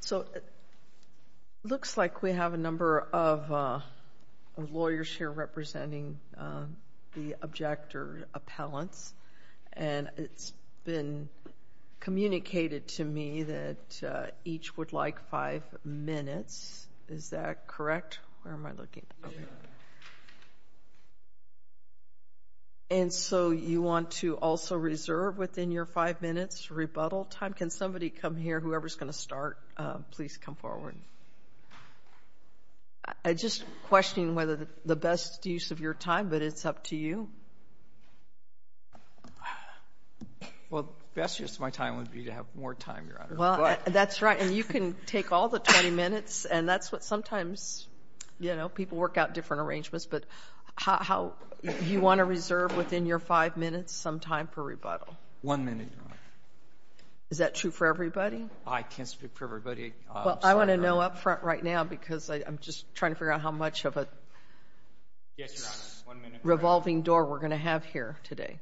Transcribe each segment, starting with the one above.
So it looks like we have a number of lawyers here representing the objector appellants. And it's been communicated to me that each would like five minutes. Is that correct? Where am I looking? And so you want to also reserve within your five minutes rebuttal time? Can somebody come here, whoever's going to start, please come forward? I'm just questioning whether the best use of your time, but it's up to you. Well, the best use of my time would be to have more time, Your Honor. Well, that's right. And you can take all the 20 minutes, and that's what sometimes, you know, people work out different arrangements. But how you want to reserve within your five minutes some time for rebuttal? One minute, Your Honor. Is that true for everybody? I can't speak for everybody. Well, I want to know up front right now, because I'm just trying to figure out how much of a revolving door we're going to have here today.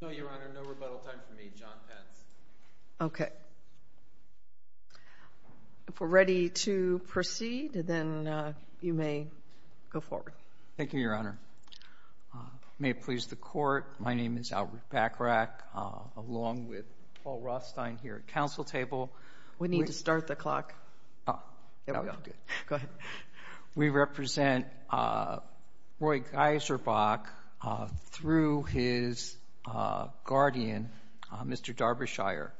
No, Your Honor, no rebuttal time for me. John Pence. Okay. If we're ready to proceed, then you may go forward. Thank you, Your Honor. May it please the Court, my name is Albert Bachrach, along with Paul Rothstein here at counsel table. We need to start the clock. We represent Roy Geiserbach through his guardian, Mr. Darbyshire.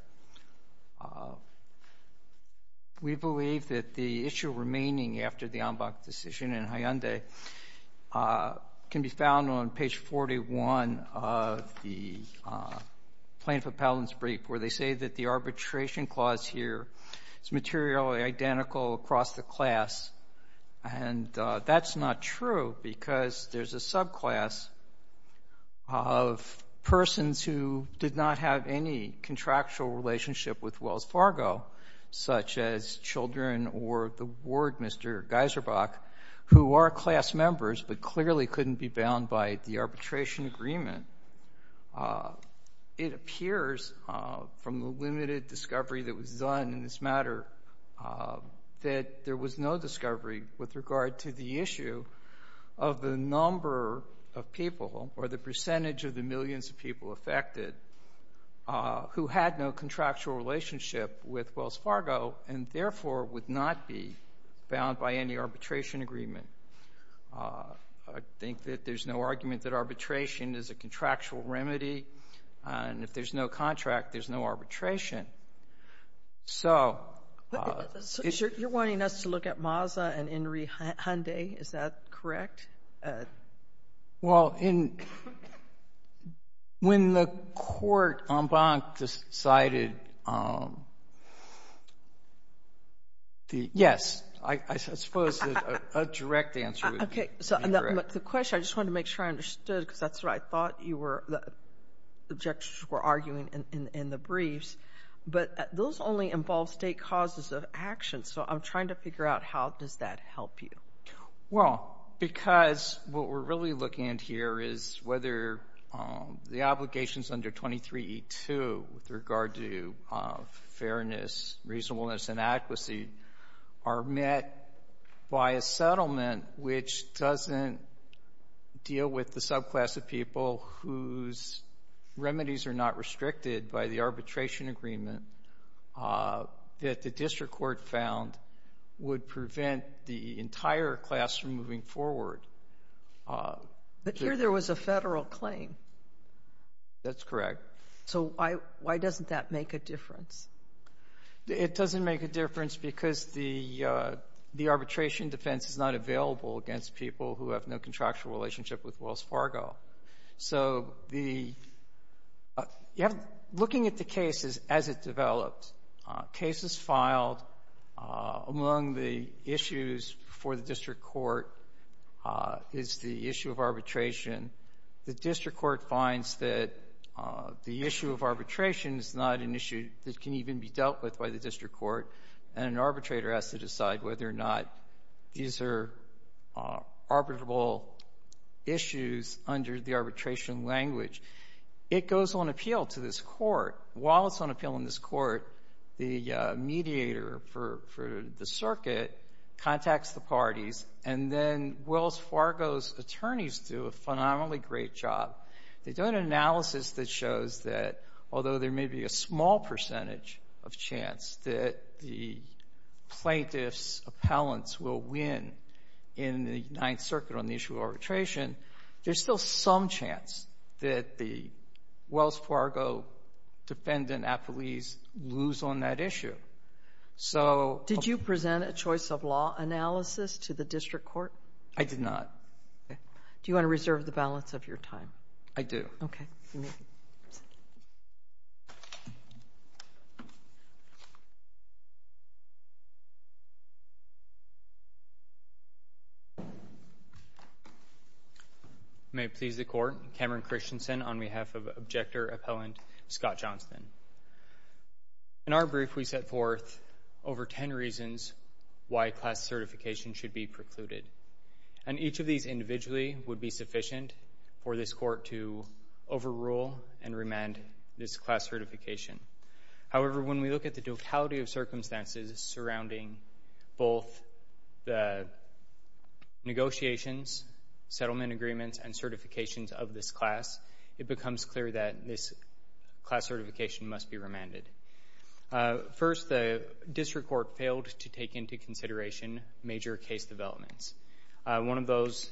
We believe that the issue remaining after the Ambach decision in Hyundai can be found on page 41 of the plaintiff appellant's brief, where they say that the arbitration clause here is materially identical across the class. And that's not true, because there's a subclass of persons who did not have any Geiserbach, who are class members, but clearly couldn't be bound by the arbitration agreement. It appears from the limited discovery that was done in this matter that there was no discovery with regard to the issue of the number of people, or the percentage of the millions of people affected, who had no contractual relationship with Wells Fargo, and therefore would not be bound by any arbitration agreement. I think that there's no argument that arbitration is a contractual remedy, and if there's no contract, there's no arbitration. So you're wanting us to look at Masa and Henry Hyundai, is that correct? Well, when the court, Ambach, decided, yes, I suppose a direct answer would be correct. Okay, so the question, I just wanted to make sure I understood, because that's what I thought you were, the objectors were arguing in the briefs, but those only involve state causes of action, so I'm trying to figure out how does that help you? Well, because what we're really looking at here is whether the obligations under 23E2 with regard to fairness, reasonableness, and adequacy are met by a settlement which doesn't deal with the subclass of people whose remedies are not restricted by the arbitration agreement that the district court found would prevent the entire class from moving forward. But here there was a federal claim. That's correct. So why doesn't that make a difference? It doesn't make a difference because the arbitration defense is not available against people who have no contractual relationship with Wells Fargo. So looking at the cases as it develops, cases filed among the issues for the district court is the issue of arbitration. The district court finds that the issue of arbitration is not an issue that can even be dealt with by the district court, and an under the arbitration language. It goes on appeal to this court. While it's on appeal in this court, the mediator for the circuit contacts the parties, and then Wells Fargo's attorneys do a phenomenally great job. They do an analysis that shows that although there may be a small percentage of chance that the plaintiff's appellants will win in the Ninth Circuit, there's still some chance that the Wells Fargo defendant appellees lose on that issue. Did you present a choice of law analysis to the district court? I did not. Do you want to reserve the balance of your time? I do. Okay. May it please the Court, Cameron Christensen on behalf of Objector Appellant Scott Johnston. In our brief, we set forth over ten reasons why class certification should be precluded, and each of these individually would be sufficient for this court to overrule and remand this class certification. However, when we look at the totality of circumstances surrounding both the negotiations, settlement agreements, and certifications of this class, it becomes clear that this class certification must be remanded. First, the district court failed to take into consideration major case developments. One of those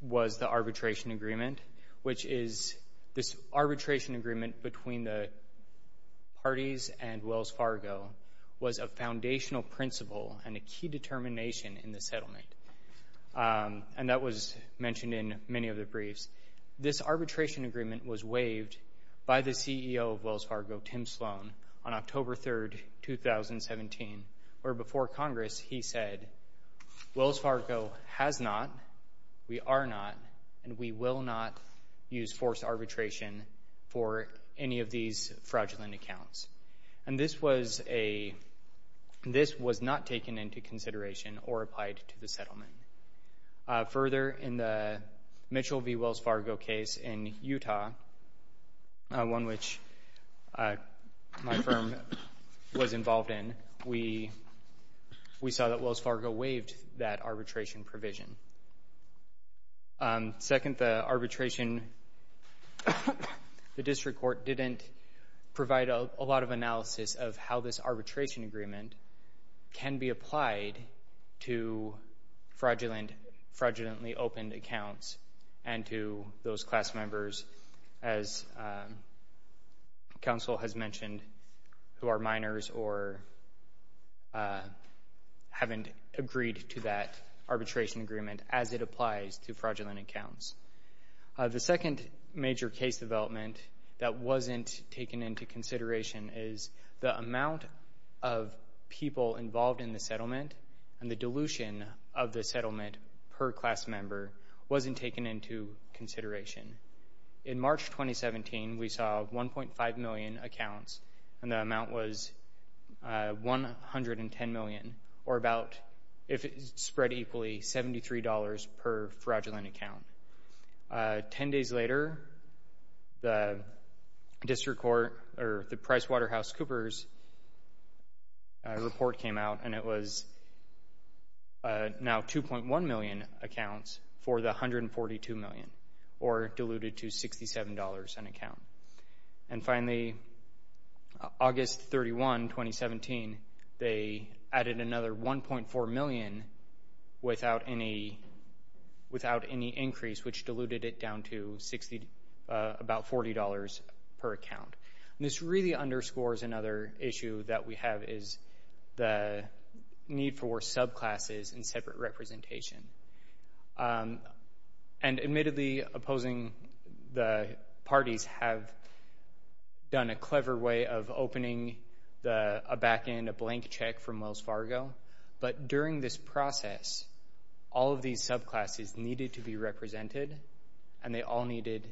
was the arbitration agreement, which is this arbitration agreement between the parties and Wells Fargo was a foundational principle and a key determination in the settlement, and that was mentioned in many of the briefs. This arbitration agreement was waived by the district court on October 3, 2017, where before Congress he said, Wells Fargo has not, we are not, and we will not use forced arbitration for any of these fraudulent accounts. And this was a, this was not taken into consideration or applied to the settlement. Further, in involved in, we saw that Wells Fargo waived that arbitration provision. Second, the arbitration, the district court didn't provide a lot of analysis of how this arbitration agreement can be applied to fraudulently opened accounts and to those class members, as counsel has mentioned, who are minors or haven't agreed to that arbitration agreement as it applies to fraudulent accounts. The second major case development that wasn't taken into consideration is the amount of people involved in the settlement and the dilution of the settlement per class member wasn't taken into consideration. In March 2017, we saw 1.5 million accounts, and the amount was 110 million, or about, if it's spread equally, $73 per fraudulent account. Ten days later, the district court, or the PricewaterhouseCoopers report came out, and it was now 2.1 million accounts for the 142 million, or diluted to $67 an account. And finally, August 31, 2017, they added another 1.4 million without any, without any increase, which diluted it down to 60, about $40 per account. This really underscores another issue that we have, is the need for subclasses and separate representation. And admittedly, opposing the parties have done a clever way of opening a back-end, a blank check from Wells Fargo, but during this process, all of these subclasses needed to be represented, and they all needed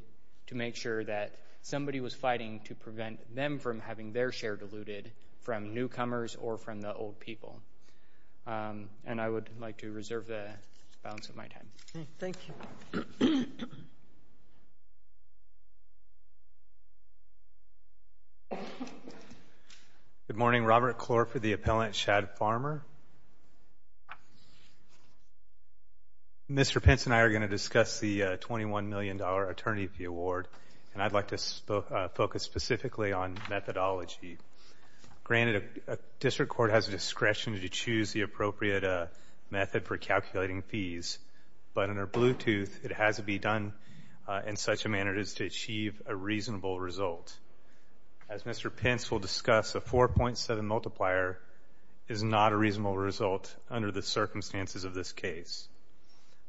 to make sure that somebody was fighting to prevent them from having their share diluted from newcomers or from the old people. And I would like to reserve the balance of my time. Okay, thank you. Good morning, Robert Clore for the appellant, Chad Farmer. Mr. Pence and I are going to discuss the $21 million attorney of the award, and I'd like to focus specifically on methodology. Granted, a district court has a discretion to choose the appropriate method for calculating fees, but under Bluetooth, it has to be done in such a manner as to achieve a reasonable result. As Mr. Pence will discuss, a 4.7 multiplier is not a reasonable result under the circumstances of this case.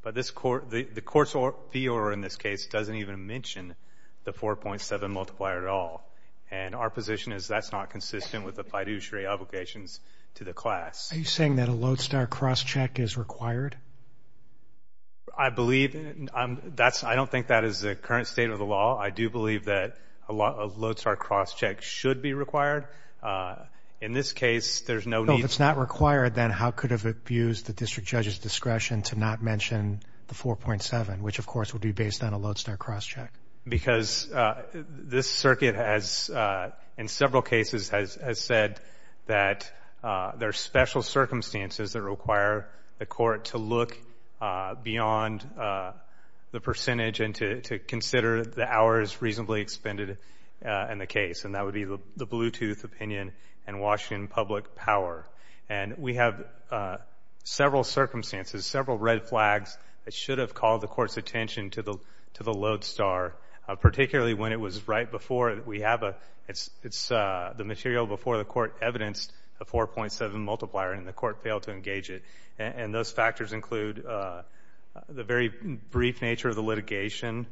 But the court's fee order in this case doesn't even mention the 4.7 multiplier at all, and our position is that's not consistent with the fiduciary obligations to the class. Are you saying that a Lodestar cross-check is required? I believe that's, I don't think that is the current state of the law. I do believe that a Lodestar cross-check should be required. In this case, there's no need. If it's not required, then how could it have abused the district judge's discretion to not mention the 4.7, which of course would be based on a Lodestar cross-check? Because this circuit has, in several cases, has said that there are special circumstances that require the court to look beyond the percentage and to consider the hours reasonably expended in the case, and that would be the Bluetooth opinion and Washington public power. And we have several circumstances, several red flags that should have called the court's attention to the Lodestar, particularly when it was right before we have a, it's the material before the court evidenced the 4.7 multiplier and the court failed to engage it. And those factors include the very brief nature of the litigation,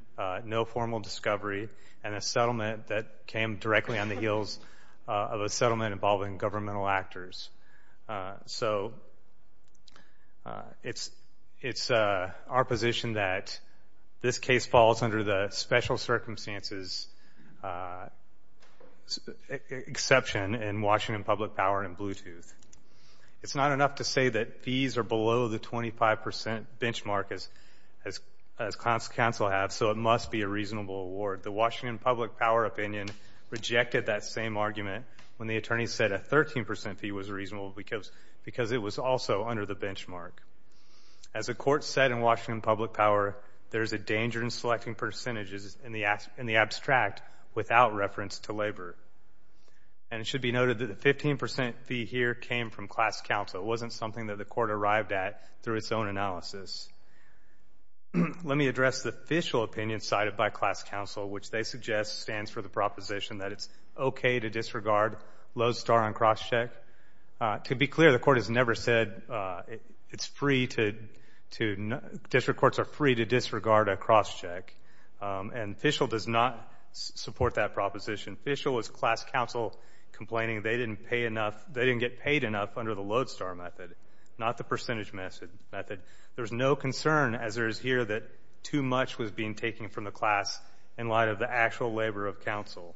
no formal discovery, and a settlement that came directly on the heels of a lawsuit. It's our position that this case falls under the special circumstances exception in Washington public power and Bluetooth. It's not enough to say that fees are below the 25 percent benchmark as counsel have, so it must be a reasonable award. The Washington public power opinion rejected that same argument when the attorney said a 13 percent fee was reasonable because it was also under the benchmark. As a court said in Washington public power, there's a danger in selecting percentages in the abstract without reference to labor. And it should be noted that the 15 percent fee here came from class counsel. It wasn't something that the court arrived at through its own analysis. Let me address the official opinion cited by class counsel, which they suggest stands for the proposition that it's okay to disregard Lodestar on cross-check. To be clear, the court has never said it's free to, to, district courts are free to disregard a cross-check. And Fishel does not support that proposition. Fishel is class counsel complaining they didn't pay enough, they didn't get paid enough under the Lodestar method, not the percentage method. There's no concern as there is here that too much was being taken from the class in light of the actual labor of counsel.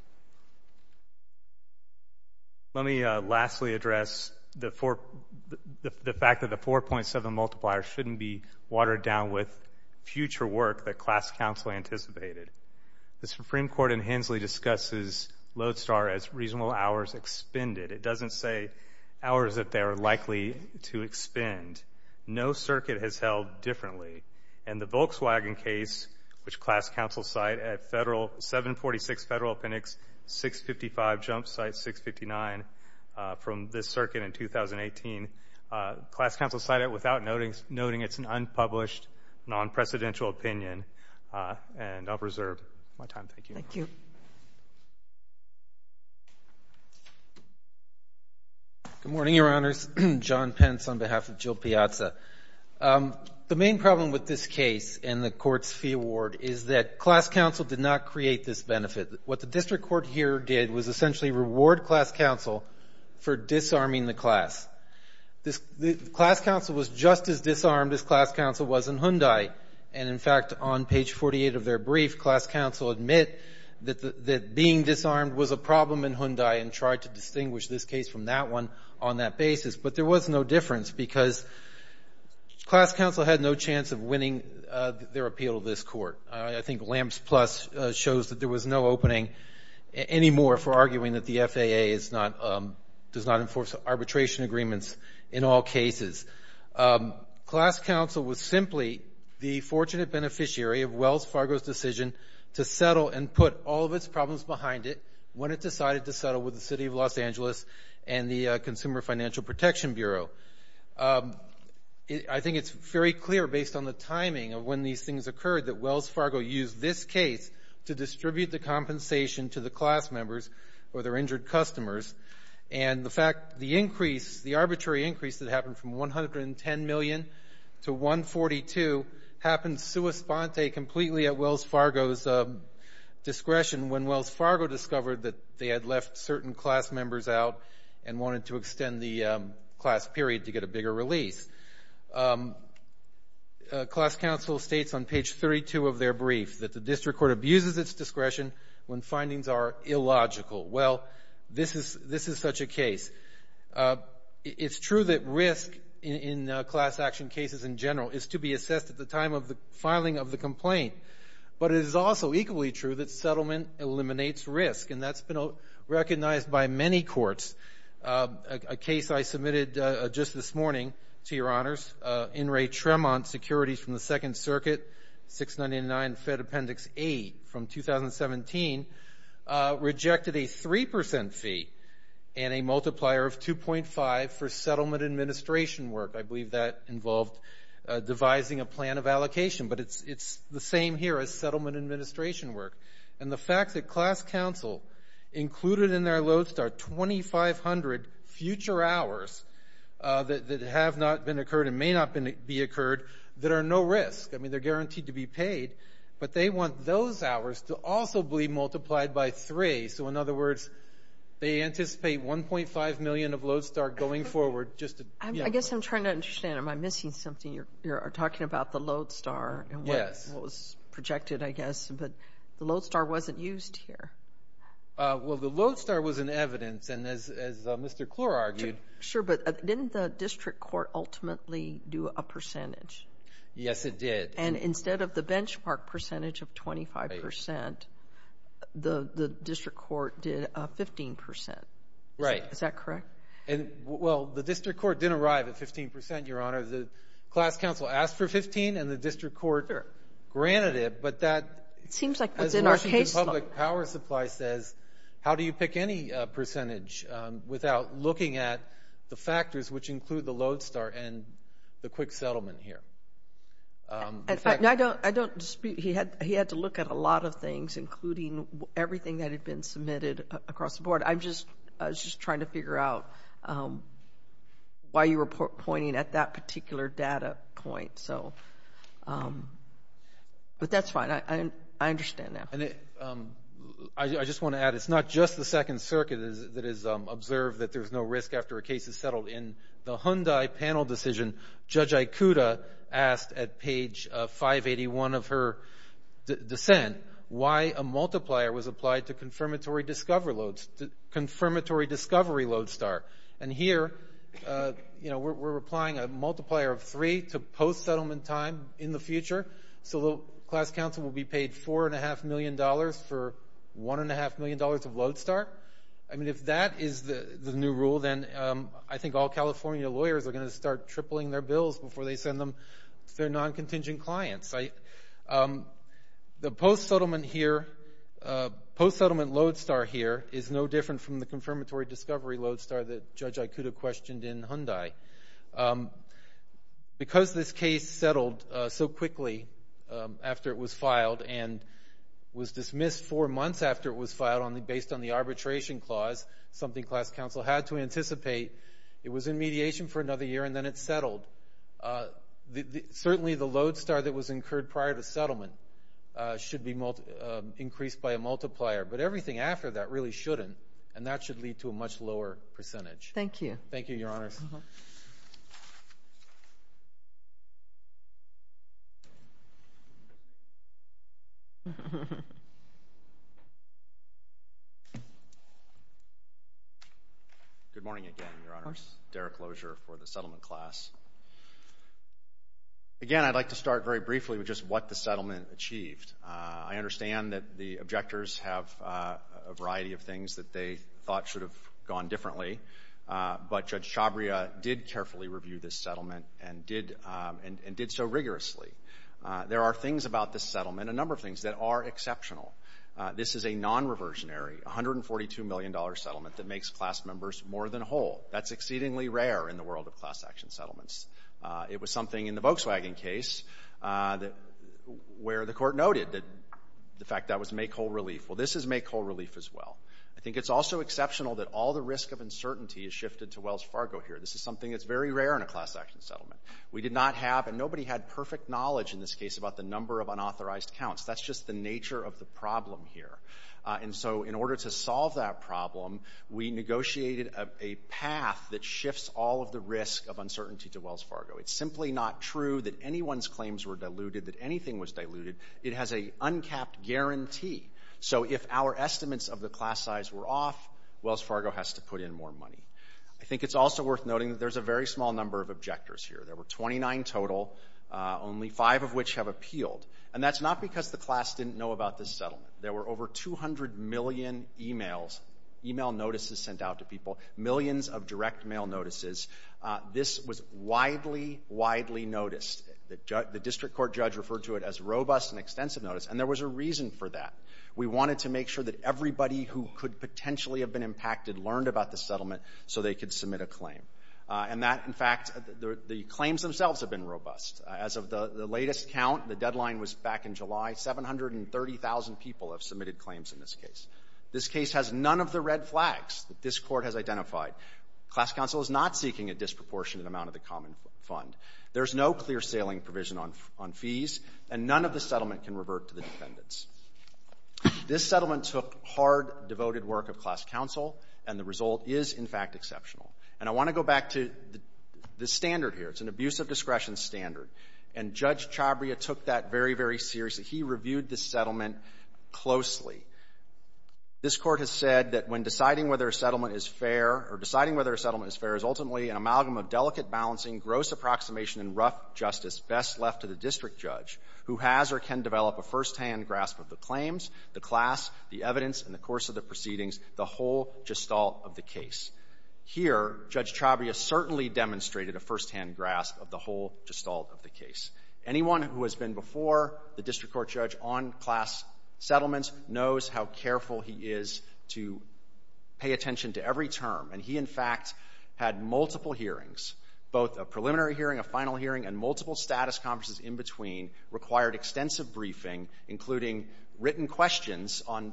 Let me lastly address the fact that the 4.7 multiplier shouldn't be watered down with future work that class counsel anticipated. The Supreme Court in Hensley discusses Lodestar as reasonable hours expended. It doesn't say hours that they are likely to expend. No circuit has held differently. And the Volkswagen case, which class counsel cite at federal, 746 Federal Appendix 655, jump site 659, from this circuit in 2018, class counsel cited it without noting, noting it's an unpublished, non-presidential opinion. And I'll reserve my time. Thank you. Thank you. Good morning, Your Honors. John Pence on behalf of Jill Piazza. The main problem with this case and the court's fee award is that class counsel did not create this benefit. What the district court here did was essentially reward class counsel for disarming the class. The class counsel was just as disarmed as class counsel was in Hyundai. And in fact, on page 48 of their brief, class counsel admit that being disarmed was a problem in Hyundai and tried to distinguish this case from that one on that basis. But there was no difference because class counsel had no chance of winning their appeal to this court. I think Lamps Plus shows that there was no opening anymore for arguing that the FAA is not, does not enforce arbitration agreements in all cases. Class counsel was simply the and put all of its problems behind it when it decided to settle with the City of Los Angeles and the Consumer Financial Protection Bureau. I think it's very clear, based on the timing of when these things occurred, that Wells Fargo used this case to distribute the compensation to the class members or their injured customers. And the fact, the increase, the arbitrary increase that happened from $110 million to $142 happened sua sponte, completely at Wells Fargo's discretion, when Wells Fargo discovered that they had left certain class members out and wanted to extend the class period to get a bigger release. Class counsel states on page 32 of their brief that the general is to be assessed at the time of the filing of the complaint. But it is also equally true that settlement eliminates risk. And that's been recognized by many courts. A case I submitted just this morning, to your honors, In re Tremont Securities from the Second Circuit, 699 Fed Appendix 8 from 2017, rejected a 3 percent fee and a multiplier of 2.5 for settlement administration work. I believe that involved devising a plan of allocation. But it's the same here as settlement administration work. And the fact that class counsel included in their lodestar 2,500 future hours that have not been occurred and may not be occurred, that are no risk. I mean, they're guaranteed to be paid. But they want those hours to also be multiplied by 3. So in other words, they anticipate 1.5 million of lodestar going forward. I guess I'm trying to understand. Am I missing something? You're talking about the lodestar and what was projected, I guess. But the lodestar wasn't used here. Well, the lodestar was in evidence. And as Mr. Klor argued. Sure, but didn't the district court ultimately do a The district court didn't arrive at 15 percent, your honor. The class counsel asked for 15 and the district court granted it. But that seems like what's in our case. As Washington Public Power Supply says, how do you pick any percentage without looking at the factors which include the lodestar and the quick settlement here? I don't dispute. He had to look at a lot of things, including everything that had been submitted across the board. I was just trying to figure out why you were pointing at that particular data point. But that's fine. I understand now. I just want to add, it's not just the Second Circuit that has observed that there's no risk after a case is settled. In the Hyundai panel decision, Judge Ikuta asked at page 581 of her dissent why a multiplier was applied to confirmatory discovery lodestar. And here, we're applying a multiplier of three to post-settlement time in the future. So the class counsel will be paid $4.5 million for $1.5 million of lodestar. If that is the new rule, then I think all California lawyers are going to start tripling their bills before they send them to their non-contingent clients. The post-settlement lodestar here is no different from the confirmatory discovery lodestar that Judge Ikuta questioned in Hyundai. Because this case settled so quickly after it was filed and was dismissed four months after it was filed based on the arbitration clause, something class counsel had to anticipate, it was in mediation for another year and then it settled. Certainly, the lodestar that was incurred prior to settlement should be increased by a multiplier. But everything after that really shouldn't, and that should lead to a much lower percentage. Thank you. Thank you, Your Honors. Good morning again, Your Honors. Derek Lozier for the settlement class. Again, I'd like to start very briefly with just what the settlement achieved. I understand that the objectors have a variety of things that they thought should have gone differently, but Judge Chabria did carefully review this settlement and did so rigorously. There are things about this settlement, a number of things, that are exceptional. This is a non-reversionary, $142 million settlement that makes class members more than whole. That's exceedingly rare in the world of class action settlements. It was something in the Volkswagen case where the court noted that the fact that was make whole relief. Well, this is make whole relief as well. I think it's also exceptional that all the risk of uncertainty is shifted to Wells Fargo here. This is something that's very rare in a class action settlement. We did not have, and nobody had perfect knowledge in this case about the number of unauthorized counts. That's just the nature of the Wells Fargo. It's simply not true that anyone's claims were diluted, that anything was diluted. It has an uncapped guarantee. So if our estimates of the class size were off, Wells Fargo has to put in more money. I think it's also worth noting that there's a very small number of objectors here. There were 29 total, only five of which have appealed. And that's not because the class didn't know about this settlement. There were over 200 million emails, email notices sent out to people, millions of direct mail notices. This was widely, widely noticed. The district court judge referred to it as robust and extensive notice, and there was a reason for that. We wanted to make sure that everybody who could potentially have been impacted learned about the settlement so they could submit a claim. And that, in fact, the claims themselves have been robust. As of the latest count, the deadline was back in July, 730,000 people have submitted claims in this case. This case has none of the red flags that this court has identified. Class counsel is not seeking a disproportionate amount of the common fund. There's no clear sailing provision on fees, and none of the settlement can revert to the defendants. This settlement took hard, devoted work of class counsel, and the result is, in fact, exceptional. And I want to go back to the standard here. It's an abuse of discretion standard. And Judge Chabria took that very, very seriously. He reviewed this settlement closely. This Court has said that when deciding whether a settlement is fair or deciding whether a settlement is fair is ultimately an amalgam of delicate balancing, gross approximation, and rough justice best left to the district judge, who has or can develop a firsthand grasp of the claims, the class, the evidence, and the course of the proceedings, the whole gestalt of the case. Here, Judge Chabria certainly demonstrated a firsthand grasp of the whole gestalt of the case. Anyone who has been before the district court judge on class settlements knows how careful he is to pay attention to every term. And he, in fact, had multiple hearings, both a preliminary hearing, a final hearing, and multiple status conferences in between, required extensive briefing, including written questions on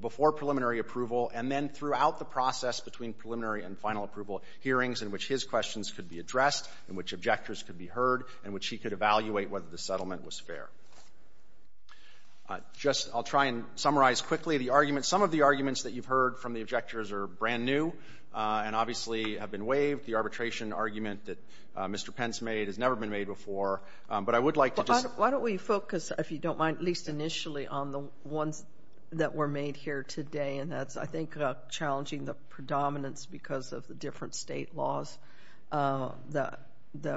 before preliminary approval, and then throughout the process between preliminary and final approval hearings in which his questions could be addressed, in which objectors could be heard, in which he could evaluate whether the settlement was fair. Just I'll try and summarize quickly the argument. Some of the arguments that you've heard from the Why don't we focus, if you don't mind, at least initially on the ones that were made here today, and that's, I think, challenging the predominance because of the different state laws that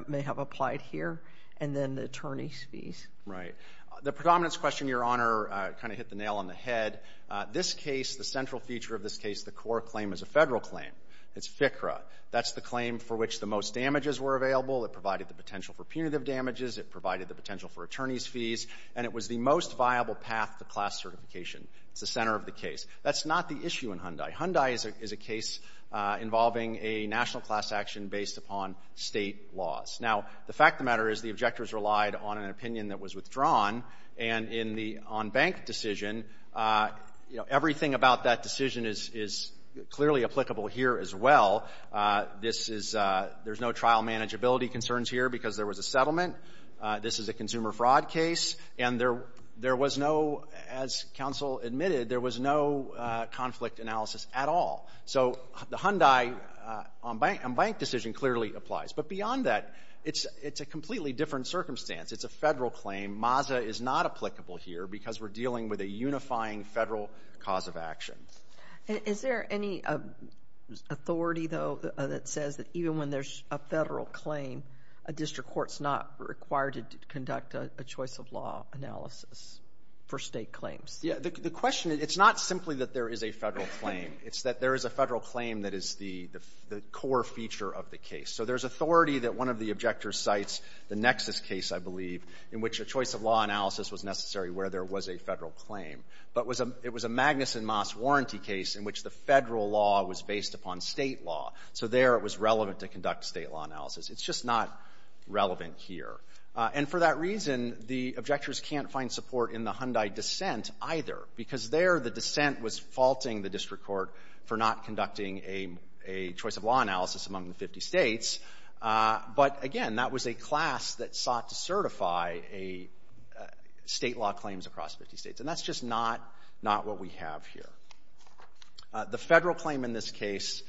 may have applied here, and then the attorney's fees. Right. The predominance question, Your Honor, kind of hit the nail on the head. This case, the central feature of this case, the core claim is a federal claim. It's FCRA. That's the claim for which the most damages were incurred. It provided the potential for attorney's fees, and it was the most viable path to class certification. It's the center of the case. That's not the issue in Hyundai. Hyundai is a case involving a national class action based upon state laws. Now, the fact of the matter is the objectors relied on an opinion that was withdrawn, and in the on-bank decision, you know, everything about that decision is clearly applicable here as well. There's no trial manageability concerns here because there was a settlement. This is a consumer fraud case, and there was no, as counsel admitted, there was no conflict analysis at all. So the Hyundai on-bank decision clearly applies, but beyond that, it's a completely different circumstance. It's a federal claim. MAZA is not applicable here because we're dealing with a unifying federal cause of action. Is there any authority, though, that says that even when there's a federal claim, a district court's not required to conduct a choice of law analysis for state claims? Yeah. The question, it's not simply that there is a federal claim. It's that there is a federal claim that is the core feature of the case. So there's authority that one of the objectors cites the Nexus case, I believe, in which a choice of law analysis was necessary where there was a federal claim. But it was a Magnuson Moss warranty case in which the federal law was based upon state law. So there it was relevant to conduct state law analysis. It's just not relevant here. And for that reason, the objectors can't find support in the Hyundai dissent either because there the dissent was faulting the district court for not conducting a choice of law analysis among the 50 States. But again, that was a class that sought to certify a state law claims across 50 States. And that's just not what we have here. The federal claim in this case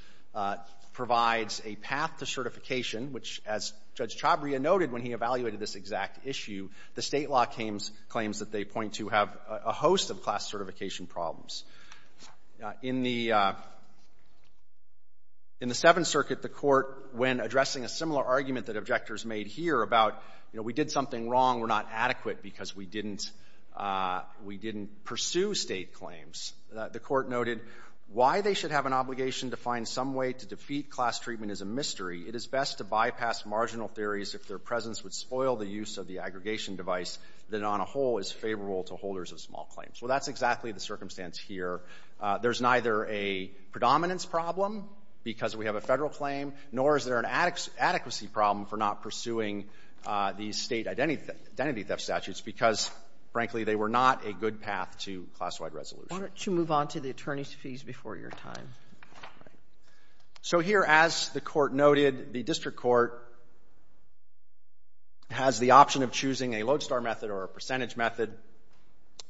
provides a path to certification, which, as Judge Chabria noted when he evaluated this exact issue, the state law claims that they point to have a host of class certification problems. In the Seventh Circuit, the Court, when addressing a similar argument that objectors made here about, you know, we did something wrong, we're not adequate because we didn't pursue State claims, the Court noted, why they should have an obligation to find some way to defeat class treatment is a mystery. It is best to bypass marginal theories if their presence would spoil the use of the aggregation device that on a whole is favorable to holders of small claims. Well, that's exactly the circumstance here. There's neither a predominance problem because we have a federal claim, nor is there an adequacy problem for not pursuing the State identity theft statutes because, frankly, they were not a good path to class-wide resolution. Why don't you move on to the attorney's fees before your time? So here, as the Court noted, the District Court has the option of choosing a lodestar method or a percentage method.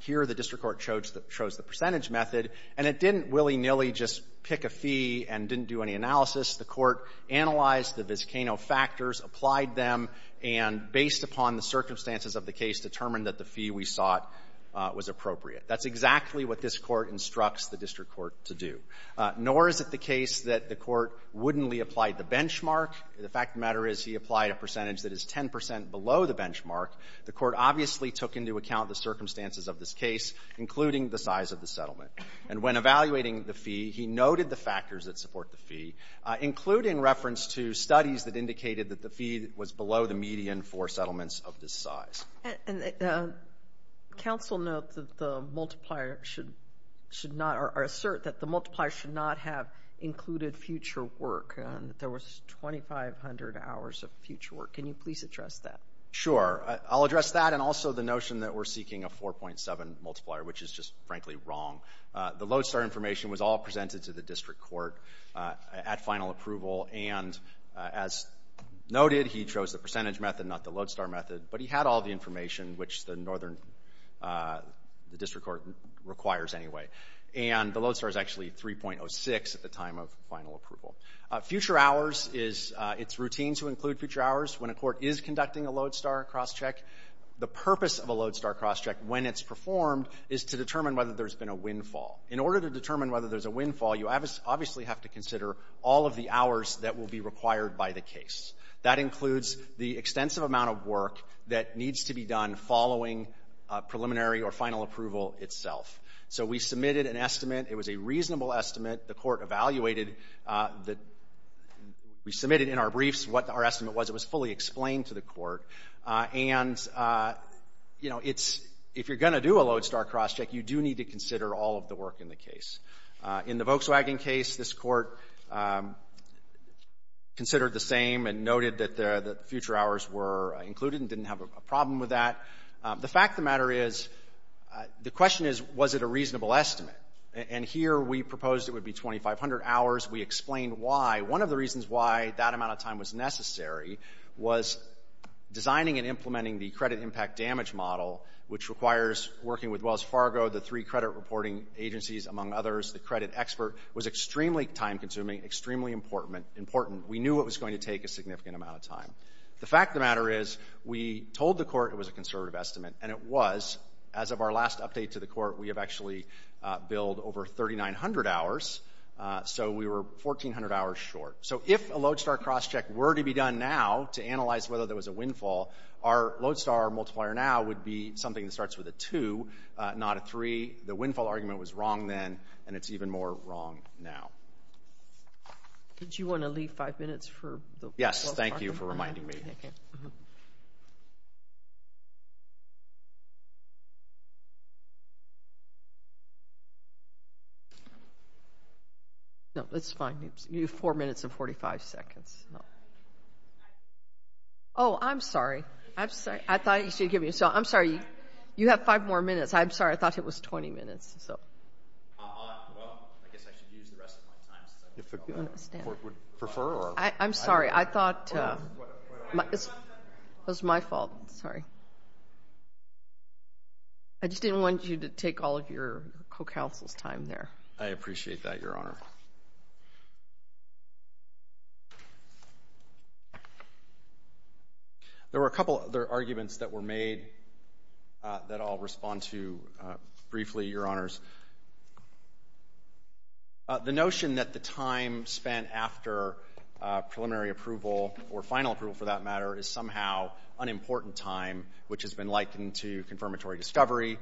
Here, the District Court chose the percentage method, and it didn't willy-nilly just pick a fee and didn't do any analysis. The Court analyzed the Vizcano factors, applied them, and based upon the circumstances of the case, determined that the fee we sought was appropriate. That's exactly what this Court instructs the District Court to do. Nor is it the case that the Court wouldn't apply the benchmark. The fact of the matter is he applied a percentage that is 10 percent below the benchmark. The Court obviously took into account the circumstances of this case, including the size of the settlement. And when evaluating the fee, he noted the factors that support the fee, including reference to studies that indicated that the fee was below the median for settlements of this size. Counsel notes that the multiplier should not, or assert that the multiplier should not have included future work. There was 2,500 hours of future work. Can you please address that? Sure. I'll address that and also the notion that we're seeking a 4.7 multiplier, which is just frankly wrong. The lodestar information was all presented to the District Court at final approval, and as noted, he chose the percentage method, not the lodestar method, but he had all the information, which the Northern District Court requires anyway. And the lodestar is actually 3.06 at the time of final approval. Future hours is, it's routine to include future hours when a court is conducting a lodestar crosscheck. The purpose of a lodestar crosscheck, when it's performed, is to determine whether there's been a windfall. In order to determine whether there's a windfall, you obviously have to consider all of the hours that will be required by the case. That includes the extensive amount of work that needs to be done following preliminary or final approval itself. So we submitted an estimate. It was a reasonable estimate. The court evaluated that we submitted in our briefs what our estimate was. It was fully explained to the court. And, you know, it's, if you're going to do a lodestar crosscheck, you do need to consider all of the work in the case. In the Volkswagen case, this court considered the same and noted that the future hours were included and didn't have a problem with that. The fact of the matter is, the question is, was it a reasonable estimate? And here we proposed it would be 2,500 hours. We explained why. One of the reasons why that amount of time was necessary was designing and implementing the credit impact damage model, which requires working with Wells Fargo, the three credit reporting agencies, among others. The credit expert was extremely time-consuming, extremely important. We knew it was going to take a significant amount of time. The fact of the matter is, we told the court it was a conservative estimate, and it was. As of our last update to the court, we have actually billed over 3,900 hours. So we were 1,400 hours short. So if a lodestar crosscheck were to be done now to analyze whether there was a windfall, our lodestar multiplier now would be something that starts with a 2, not a 3. The windfall argument was wrong then, and it's even more wrong now. Did you want to leave five minutes for the Wells Fargo? Yes, thank you for reminding me. No, it's fine. You have four minutes and 45 seconds. Oh, I'm sorry. I'm sorry. I thought you should give me a second. I'm sorry. You have five more minutes. I'm sorry. I thought it was 20 minutes. Well, I guess I should use the rest of my time. If the court would prefer. I'm sorry. I thought it was my fault. Sorry. I just didn't want you to take all of your co-counsel's time there. I appreciate that, Your Honor. There were a couple other arguments that were made that I'll respond to briefly, Your Honors. The notion that the time spent after preliminary approval or final approval, for that matter, is somehow an important time, which has been likened to confirmatory discovery,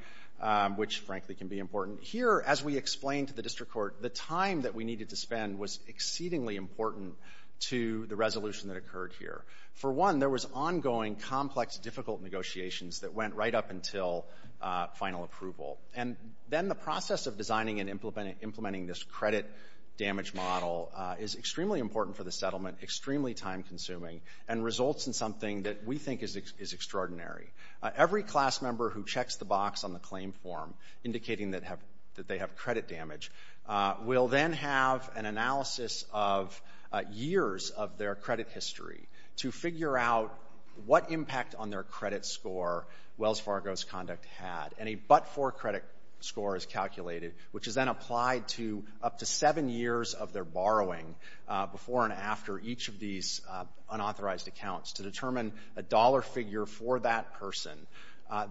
which, frankly, can be important. Here, as we explained to the district court, the time that we needed to spend was exceedingly important to the resolution that occurred here. For one, there was ongoing, complex, difficult negotiations that went right up until final approval. And then the process of designing and implementing this credit damage model is extremely important for the settlement, extremely time-consuming, and results in something that we think is extraordinary. Every class member who checks the box on the claim form indicating that they have credit damage will then have an analysis of years of their credit history to figure out what impact on their credit score Wells Fargo's conduct had. And a but-for credit score is calculated, which is then applied to up to seven years of their borrowing before and after each of these unauthorized accounts to determine a dollar figure for that person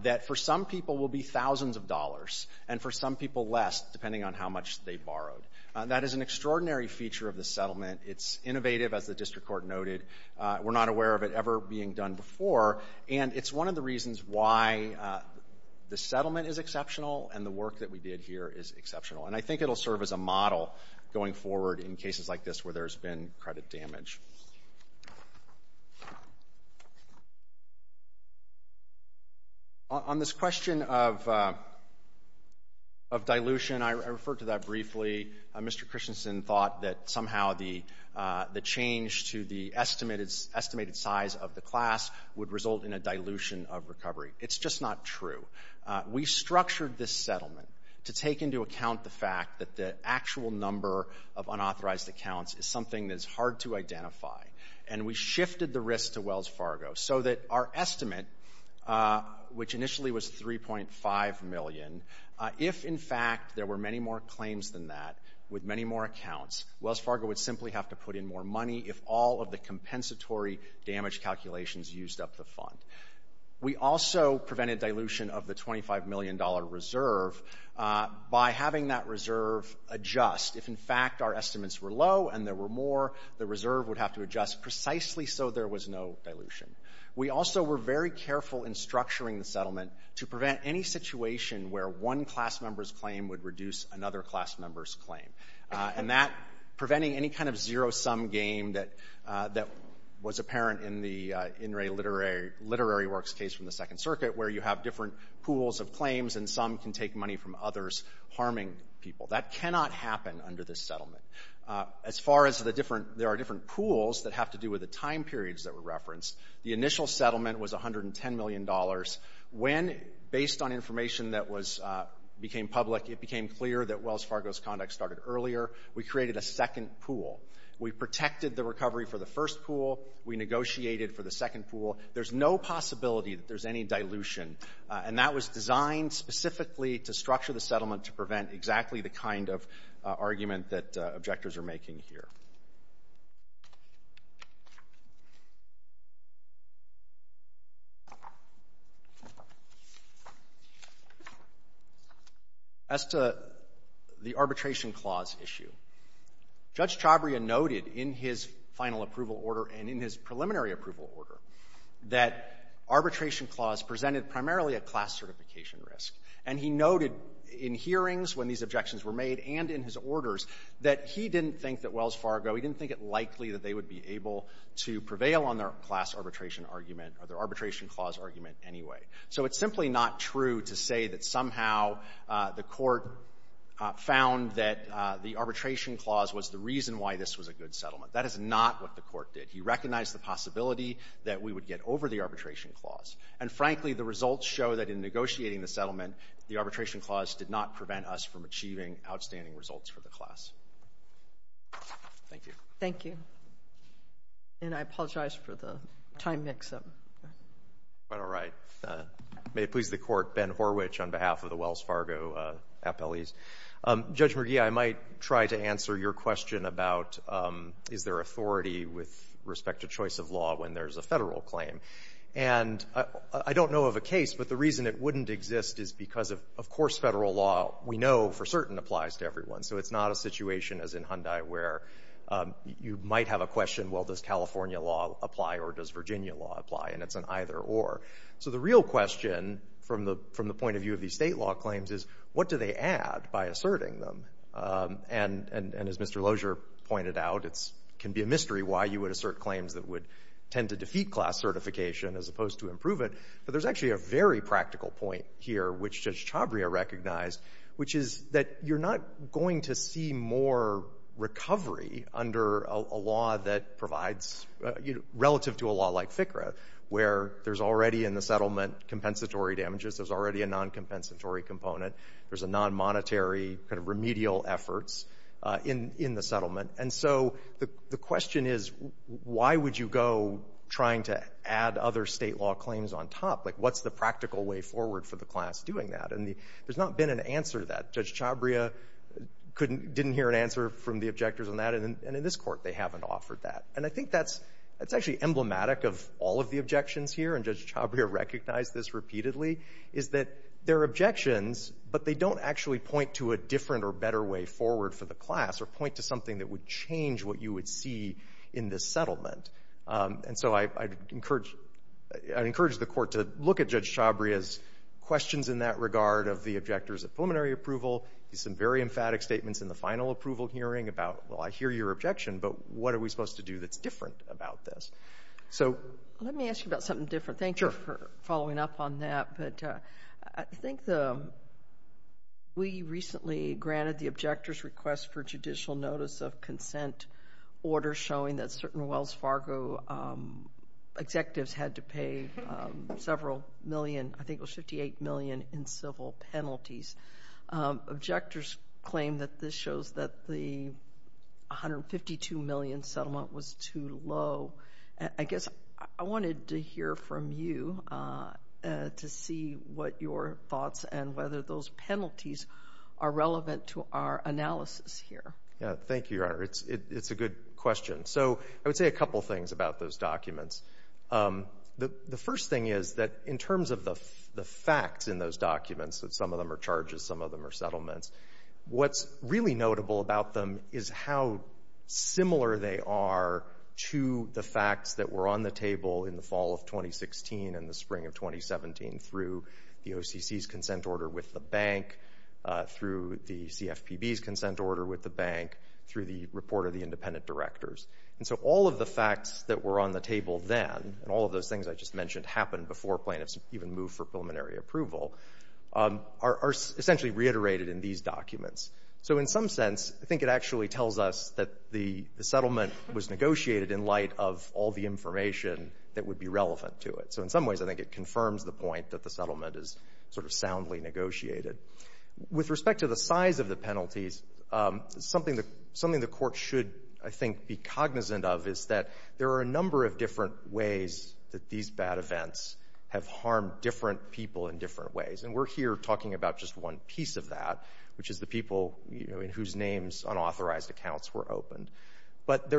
that, for some people, will be thousands of dollars and, for some people, less, depending on how much they borrowed. That is an extraordinary feature of the settlement. It's innovative, as the district court noted. We're not aware of it ever being done before. And it's one of the reasons why the settlement is exceptional and the work that we did here is exceptional. And I think it'll serve as a model going forward in cases like this where there's been credit damage. On this question of dilution, I referred to that briefly. Mr. Christensen thought that somehow the change to the estimated size of the class would result in a dilution of recovery. It's just not true. We structured this settlement to take into account the fact that the actual number of unauthorized accounts is something that's hard to identify. And we shifted the risk to Wells Fargo so that our estimate, which initially was $3.5 million, if, in fact, there were many more claims than that with many more accounts, Wells Fargo would simply have to put in more money if all of the compensatory damage calculations used up the fund. We also prevented dilution of the $25 million reserve by having that reserve adjust. If, in fact, our estimates were low and there were more, the reserve would have to adjust precisely so there was no dilution. We also were very careful in structuring the settlement to prevent any situation where one class member's claim would reduce another class member's claim. And that, preventing any kind of zero-sum game that was apparent in the In Re Literary Works case from the Second Circuit, where you have different pools of claims and some can take money from others harming people. That cannot happen under this settlement. As far as the different – there are different pools that have to do with the time periods that were referenced. The initial settlement was $110 million. When, based on information that was – became public, it became clear that Wells Fargo's conduct started earlier. We created a second pool. We protected the recovery for the first pool. We negotiated for the second pool. There's no possibility that there's any dilution. And that was designed specifically to structure the settlement to prevent exactly the kind of argument that objectors are making here. As to the arbitration clause issue, Judge Chabria noted in his final approval order and in his preliminary approval order that arbitration clause presented primarily a class certification risk. And he noted in hearings when these objections were made and in his orders that he didn't think that Wells Fargo – he didn't think it likely that they would be able to prevail on their class arbitration argument or their arbitration clause argument anyway. So it's simply not true to say that somehow the Court found that the arbitration clause was the reason why this was a good settlement. That is not what the Court did. He recognized the possibility that we would get over the arbitration clause. And frankly, the results show that in negotiating the settlement, the arbitration clause did not prevent us from achieving outstanding results for the class. Thank you. Thank you. And I apologize for the time mix-up. All right. May it please the Court, Ben Horwich on behalf of the Wells Fargo appellees. Judge McGee, I might try to answer your question about is there authority with respect to choice of law when there's a Federal claim. And I don't know of a case, but the reason it wouldn't exist is because of course Federal law we know for certain applies to everyone. So it's not a situation as in Hyundai where you might have a question, well, does California law apply or does Virginia law apply? And it's an either-or. So the real question from the point of view of these State law claims is what do they add by asserting them? And as Mr. Lozier pointed out, it can be a mystery why you would assert claims that would tend to defeat class certification as opposed to improve it. But there's actually a very practical point here, which Judge Chavria recognized, which is that you're not going to see more recovery under a law that provides, relative to a law like FCRA, where there's already in the settlement compensatory damages, there's already a non-compensatory component, there's a non-monetary kind of remedial efforts in the settlement. And so the question is why would you go trying to add other State law claims on top? Like what's the practical way forward for the class doing that? And there's not been an answer to that. Judge Chavria didn't hear an answer from the objectors on that. And in this Court, they haven't offered that. And I think that's actually emblematic of all of the objections here, and Judge Chavria recognized this repeatedly, is that there are objections, but they don't actually point to a different or better way forward for the class or point to something that would change what you would see in this settlement. And so I'd encourage the Court to look at Judge Chavria's questions in that regard of the objectors of preliminary approval. He has some very emphatic statements in the final approval hearing about, well, I hear your objection, but what are we supposed to do that's different about this? So let me ask you about something different. Thank you for following up on that. But I think we recently granted the objectors' request for judicial notice of consent order showing that certain Wells Fargo executives had to pay several million, I think it was $58 million, in civil penalties. Objectors claim that this shows that the $152 million settlement was too low. I guess I wanted to hear from you to see what your thoughts and whether those penalties are relevant to our analysis here. Thank you, Your Honor. It's a good question. So I would say a couple things about those documents. The first thing is that in terms of the facts in those documents, that some of them are charges, some of them are settlements, what's really notable about them is how similar they are to the facts that were on the table in the fall of 2016 and the spring of 2017 through the OCC's consent order with the bank, through the CFPB's consent order with the bank, through the report of the independent directors. And so all of the facts that were on the table then, and all of those things I just mentioned happened before plaintiffs even moved for preliminary approval, are essentially reiterated in these documents. So in some sense, I think it actually tells us that the settlement was negotiated in light of all the information that would be relevant to it. So in some ways, I think it confirms the point that the settlement is sort of soundly negotiated. With respect to the size of the penalties, something the court should, I think, be cognizant of is that there are a number of different ways that these bad events have harmed different people in different ways. And we're here talking about just one piece of that, which is the people in whose names unauthorized accounts were opened. But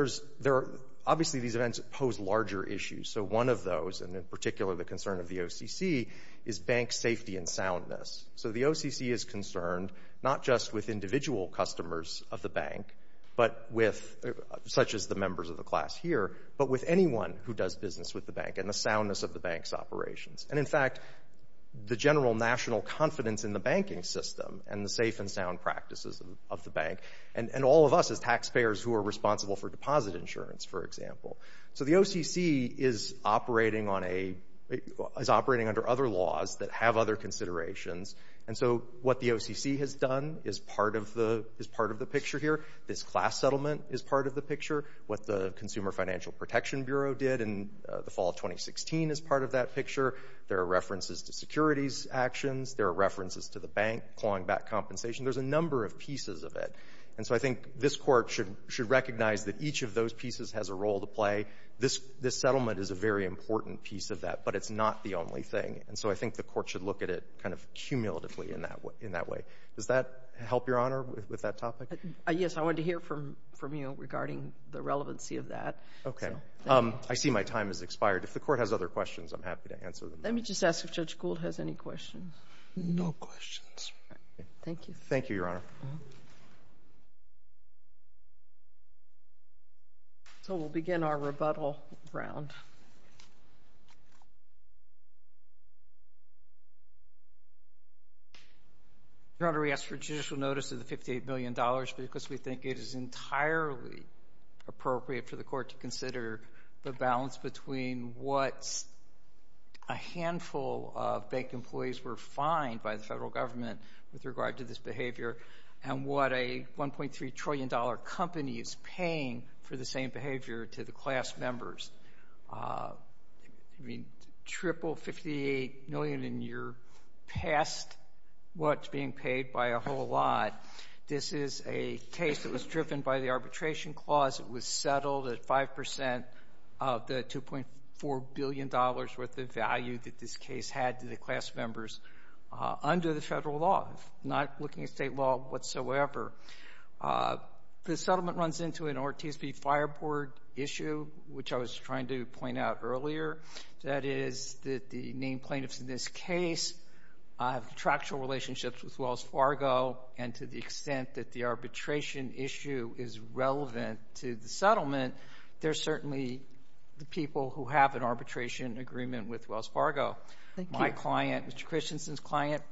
obviously these events pose larger issues. So one of those, and in particular the concern of the OCC, is bank safety and soundness. So the OCC is concerned not just with individual customers of the bank, such as the members of the class here, but with anyone who does business with the bank, and the soundness of the bank's operations. And in fact, the general national confidence in the banking system and the safe and sound practices of the bank, and all of us as taxpayers who are responsible for deposit insurance, for example. So the OCC is operating under other laws that have other considerations. And so what the OCC has done is part of the picture here. This class settlement is part of the picture. What the Consumer Financial Protection Bureau did in the fall of 2016 is part of that picture. There are references to securities actions. There are references to the bank clawing back compensation. There's a number of pieces of it. And so I think this court should recognize that each of those pieces has a role to play. This settlement is a very important piece of that, but it's not the only thing. And so I think the court should look at it kind of cumulatively in that way. Does that help, Your Honor, with that topic? Yes, I wanted to hear from you regarding the relevancy of that. Okay. I see my time has expired. If the court has other questions, I'm happy to answer them. Let me just ask if Judge Gould has any questions. No questions. Thank you. Thank you, Your Honor. So we'll begin our rebuttal round. Your Honor, we ask for judicial notice of the $58 million because we think it is entirely appropriate for the court to consider the balance between what a handful of bank employees were fined by the federal government with regard to this behavior and what a $1.3 trillion company is paying for the same behavior to the class members. I mean, triple $58 million in your past what's being paid by a whole lot. This is a case that was driven by the arbitration clause. It was settled at 5% of the $2.4 billion worth of value that this case had to the class members under the federal law. I'm not looking at state law whatsoever. The settlement runs into an RTSB fireboard issue, which I was trying to point out earlier. That is that the named plaintiffs in this case have contractual relationships with Wells Fargo, and to the extent that the arbitration issue is relevant to the settlement, they're certainly the people who have an arbitration agreement with Wells Fargo. Thank you. My client, Mr. Christensen's client,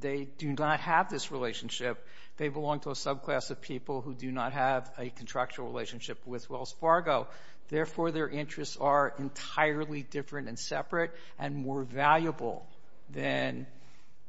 they do not have this relationship. They belong to a subclass of people who do not have a contractual relationship with Wells Fargo. Therefore, their interests are entirely different and separate and more valuable than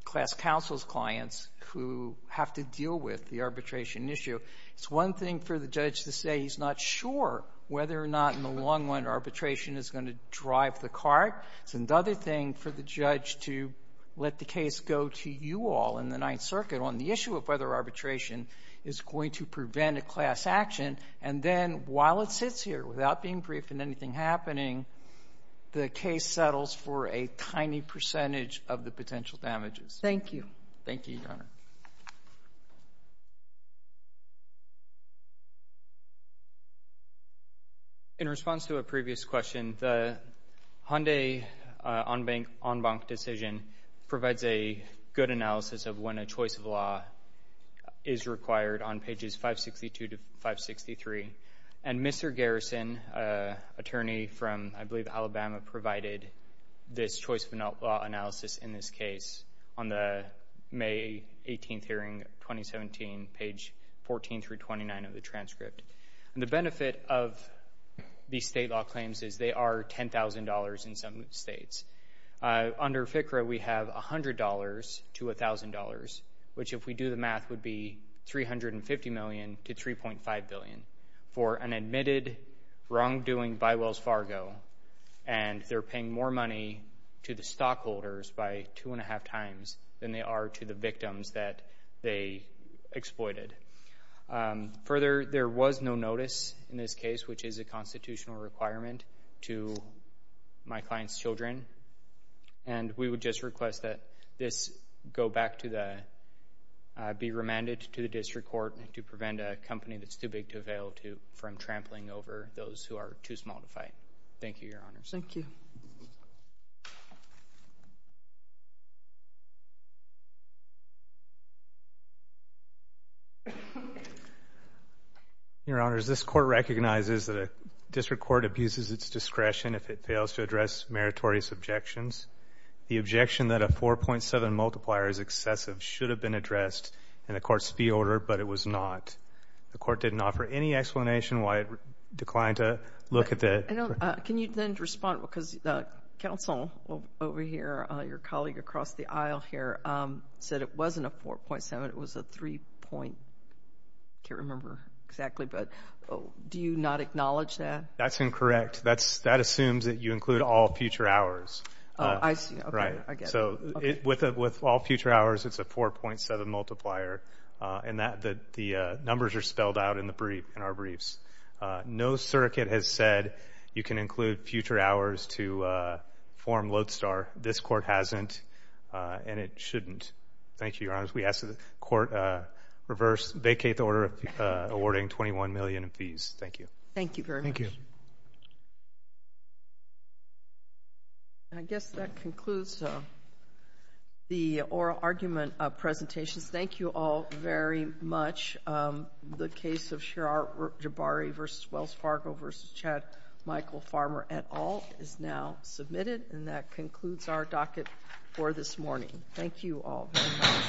class counsel's clients who have to deal with the arbitration issue. It's one thing for the judge to say he's not sure whether or not in the long run arbitration is going to drive the cart. It's another thing for the judge to let the case go to you all in the Ninth Circuit on the issue of whether arbitration is going to prevent a class action, and then while it sits here without being briefed and anything happening, the case settles for a tiny percentage of the potential damages. Thank you. Thank you, Your Honor. Thank you. In response to a previous question, the Hyundai en banc decision provides a good analysis of when a choice of law is required on pages 562 to 563, and Mr. Garrison, an attorney from, I believe, Alabama, provided this choice of law analysis in this case on the May 18th hearing, 2017, page 14 through 29 of the transcript. The benefit of these state law claims is they are $10,000 in some states. Under FCRA, we have $100 to $1,000, which if we do the math would be $350 million to $3.5 billion for an admitted wrongdoing by Wells Fargo, and they're paying more money to the stockholders by two and a half times than they are to the victims that they exploited. Further, there was no notice in this case, which is a constitutional requirement to my client's children, and we would just request that this go back to the be remanded to the district court to prevent a company that's too big to avail to from trampling over those who are too small to fight. Thank you, Your Honors. Thank you. Your Honors, this court recognizes that a district court abuses its discretion if it fails to address meritorious objections. The objection that a 4.7 multiplier is excessive should have been addressed, and the court's fee order, but it was not. The court didn't offer any explanation why it declined to look at that. Can you then respond? Because the counsel over here, your colleague across the aisle here, said it wasn't a 4.7. It was a 3 point. I can't remember exactly, but do you not acknowledge that? That's incorrect. That assumes that you include all future hours. I see. Okay. I get it. With all future hours, it's a 4.7 multiplier, and the numbers are spelled out in our briefs. No circuit has said you can include future hours to form Lodestar. This court hasn't, and it shouldn't. Thank you, Your Honors. We ask that the court reverse, vacate the order awarding $21 million in fees. Thank you. Thank you very much. Thank you. I guess that concludes the oral argument presentations. Thank you all very much. The case of Shirar Jabari v. Wells Fargo v. Chad Michael Farmer et al. is now submitted, and that concludes our docket for this morning. Thank you all very much.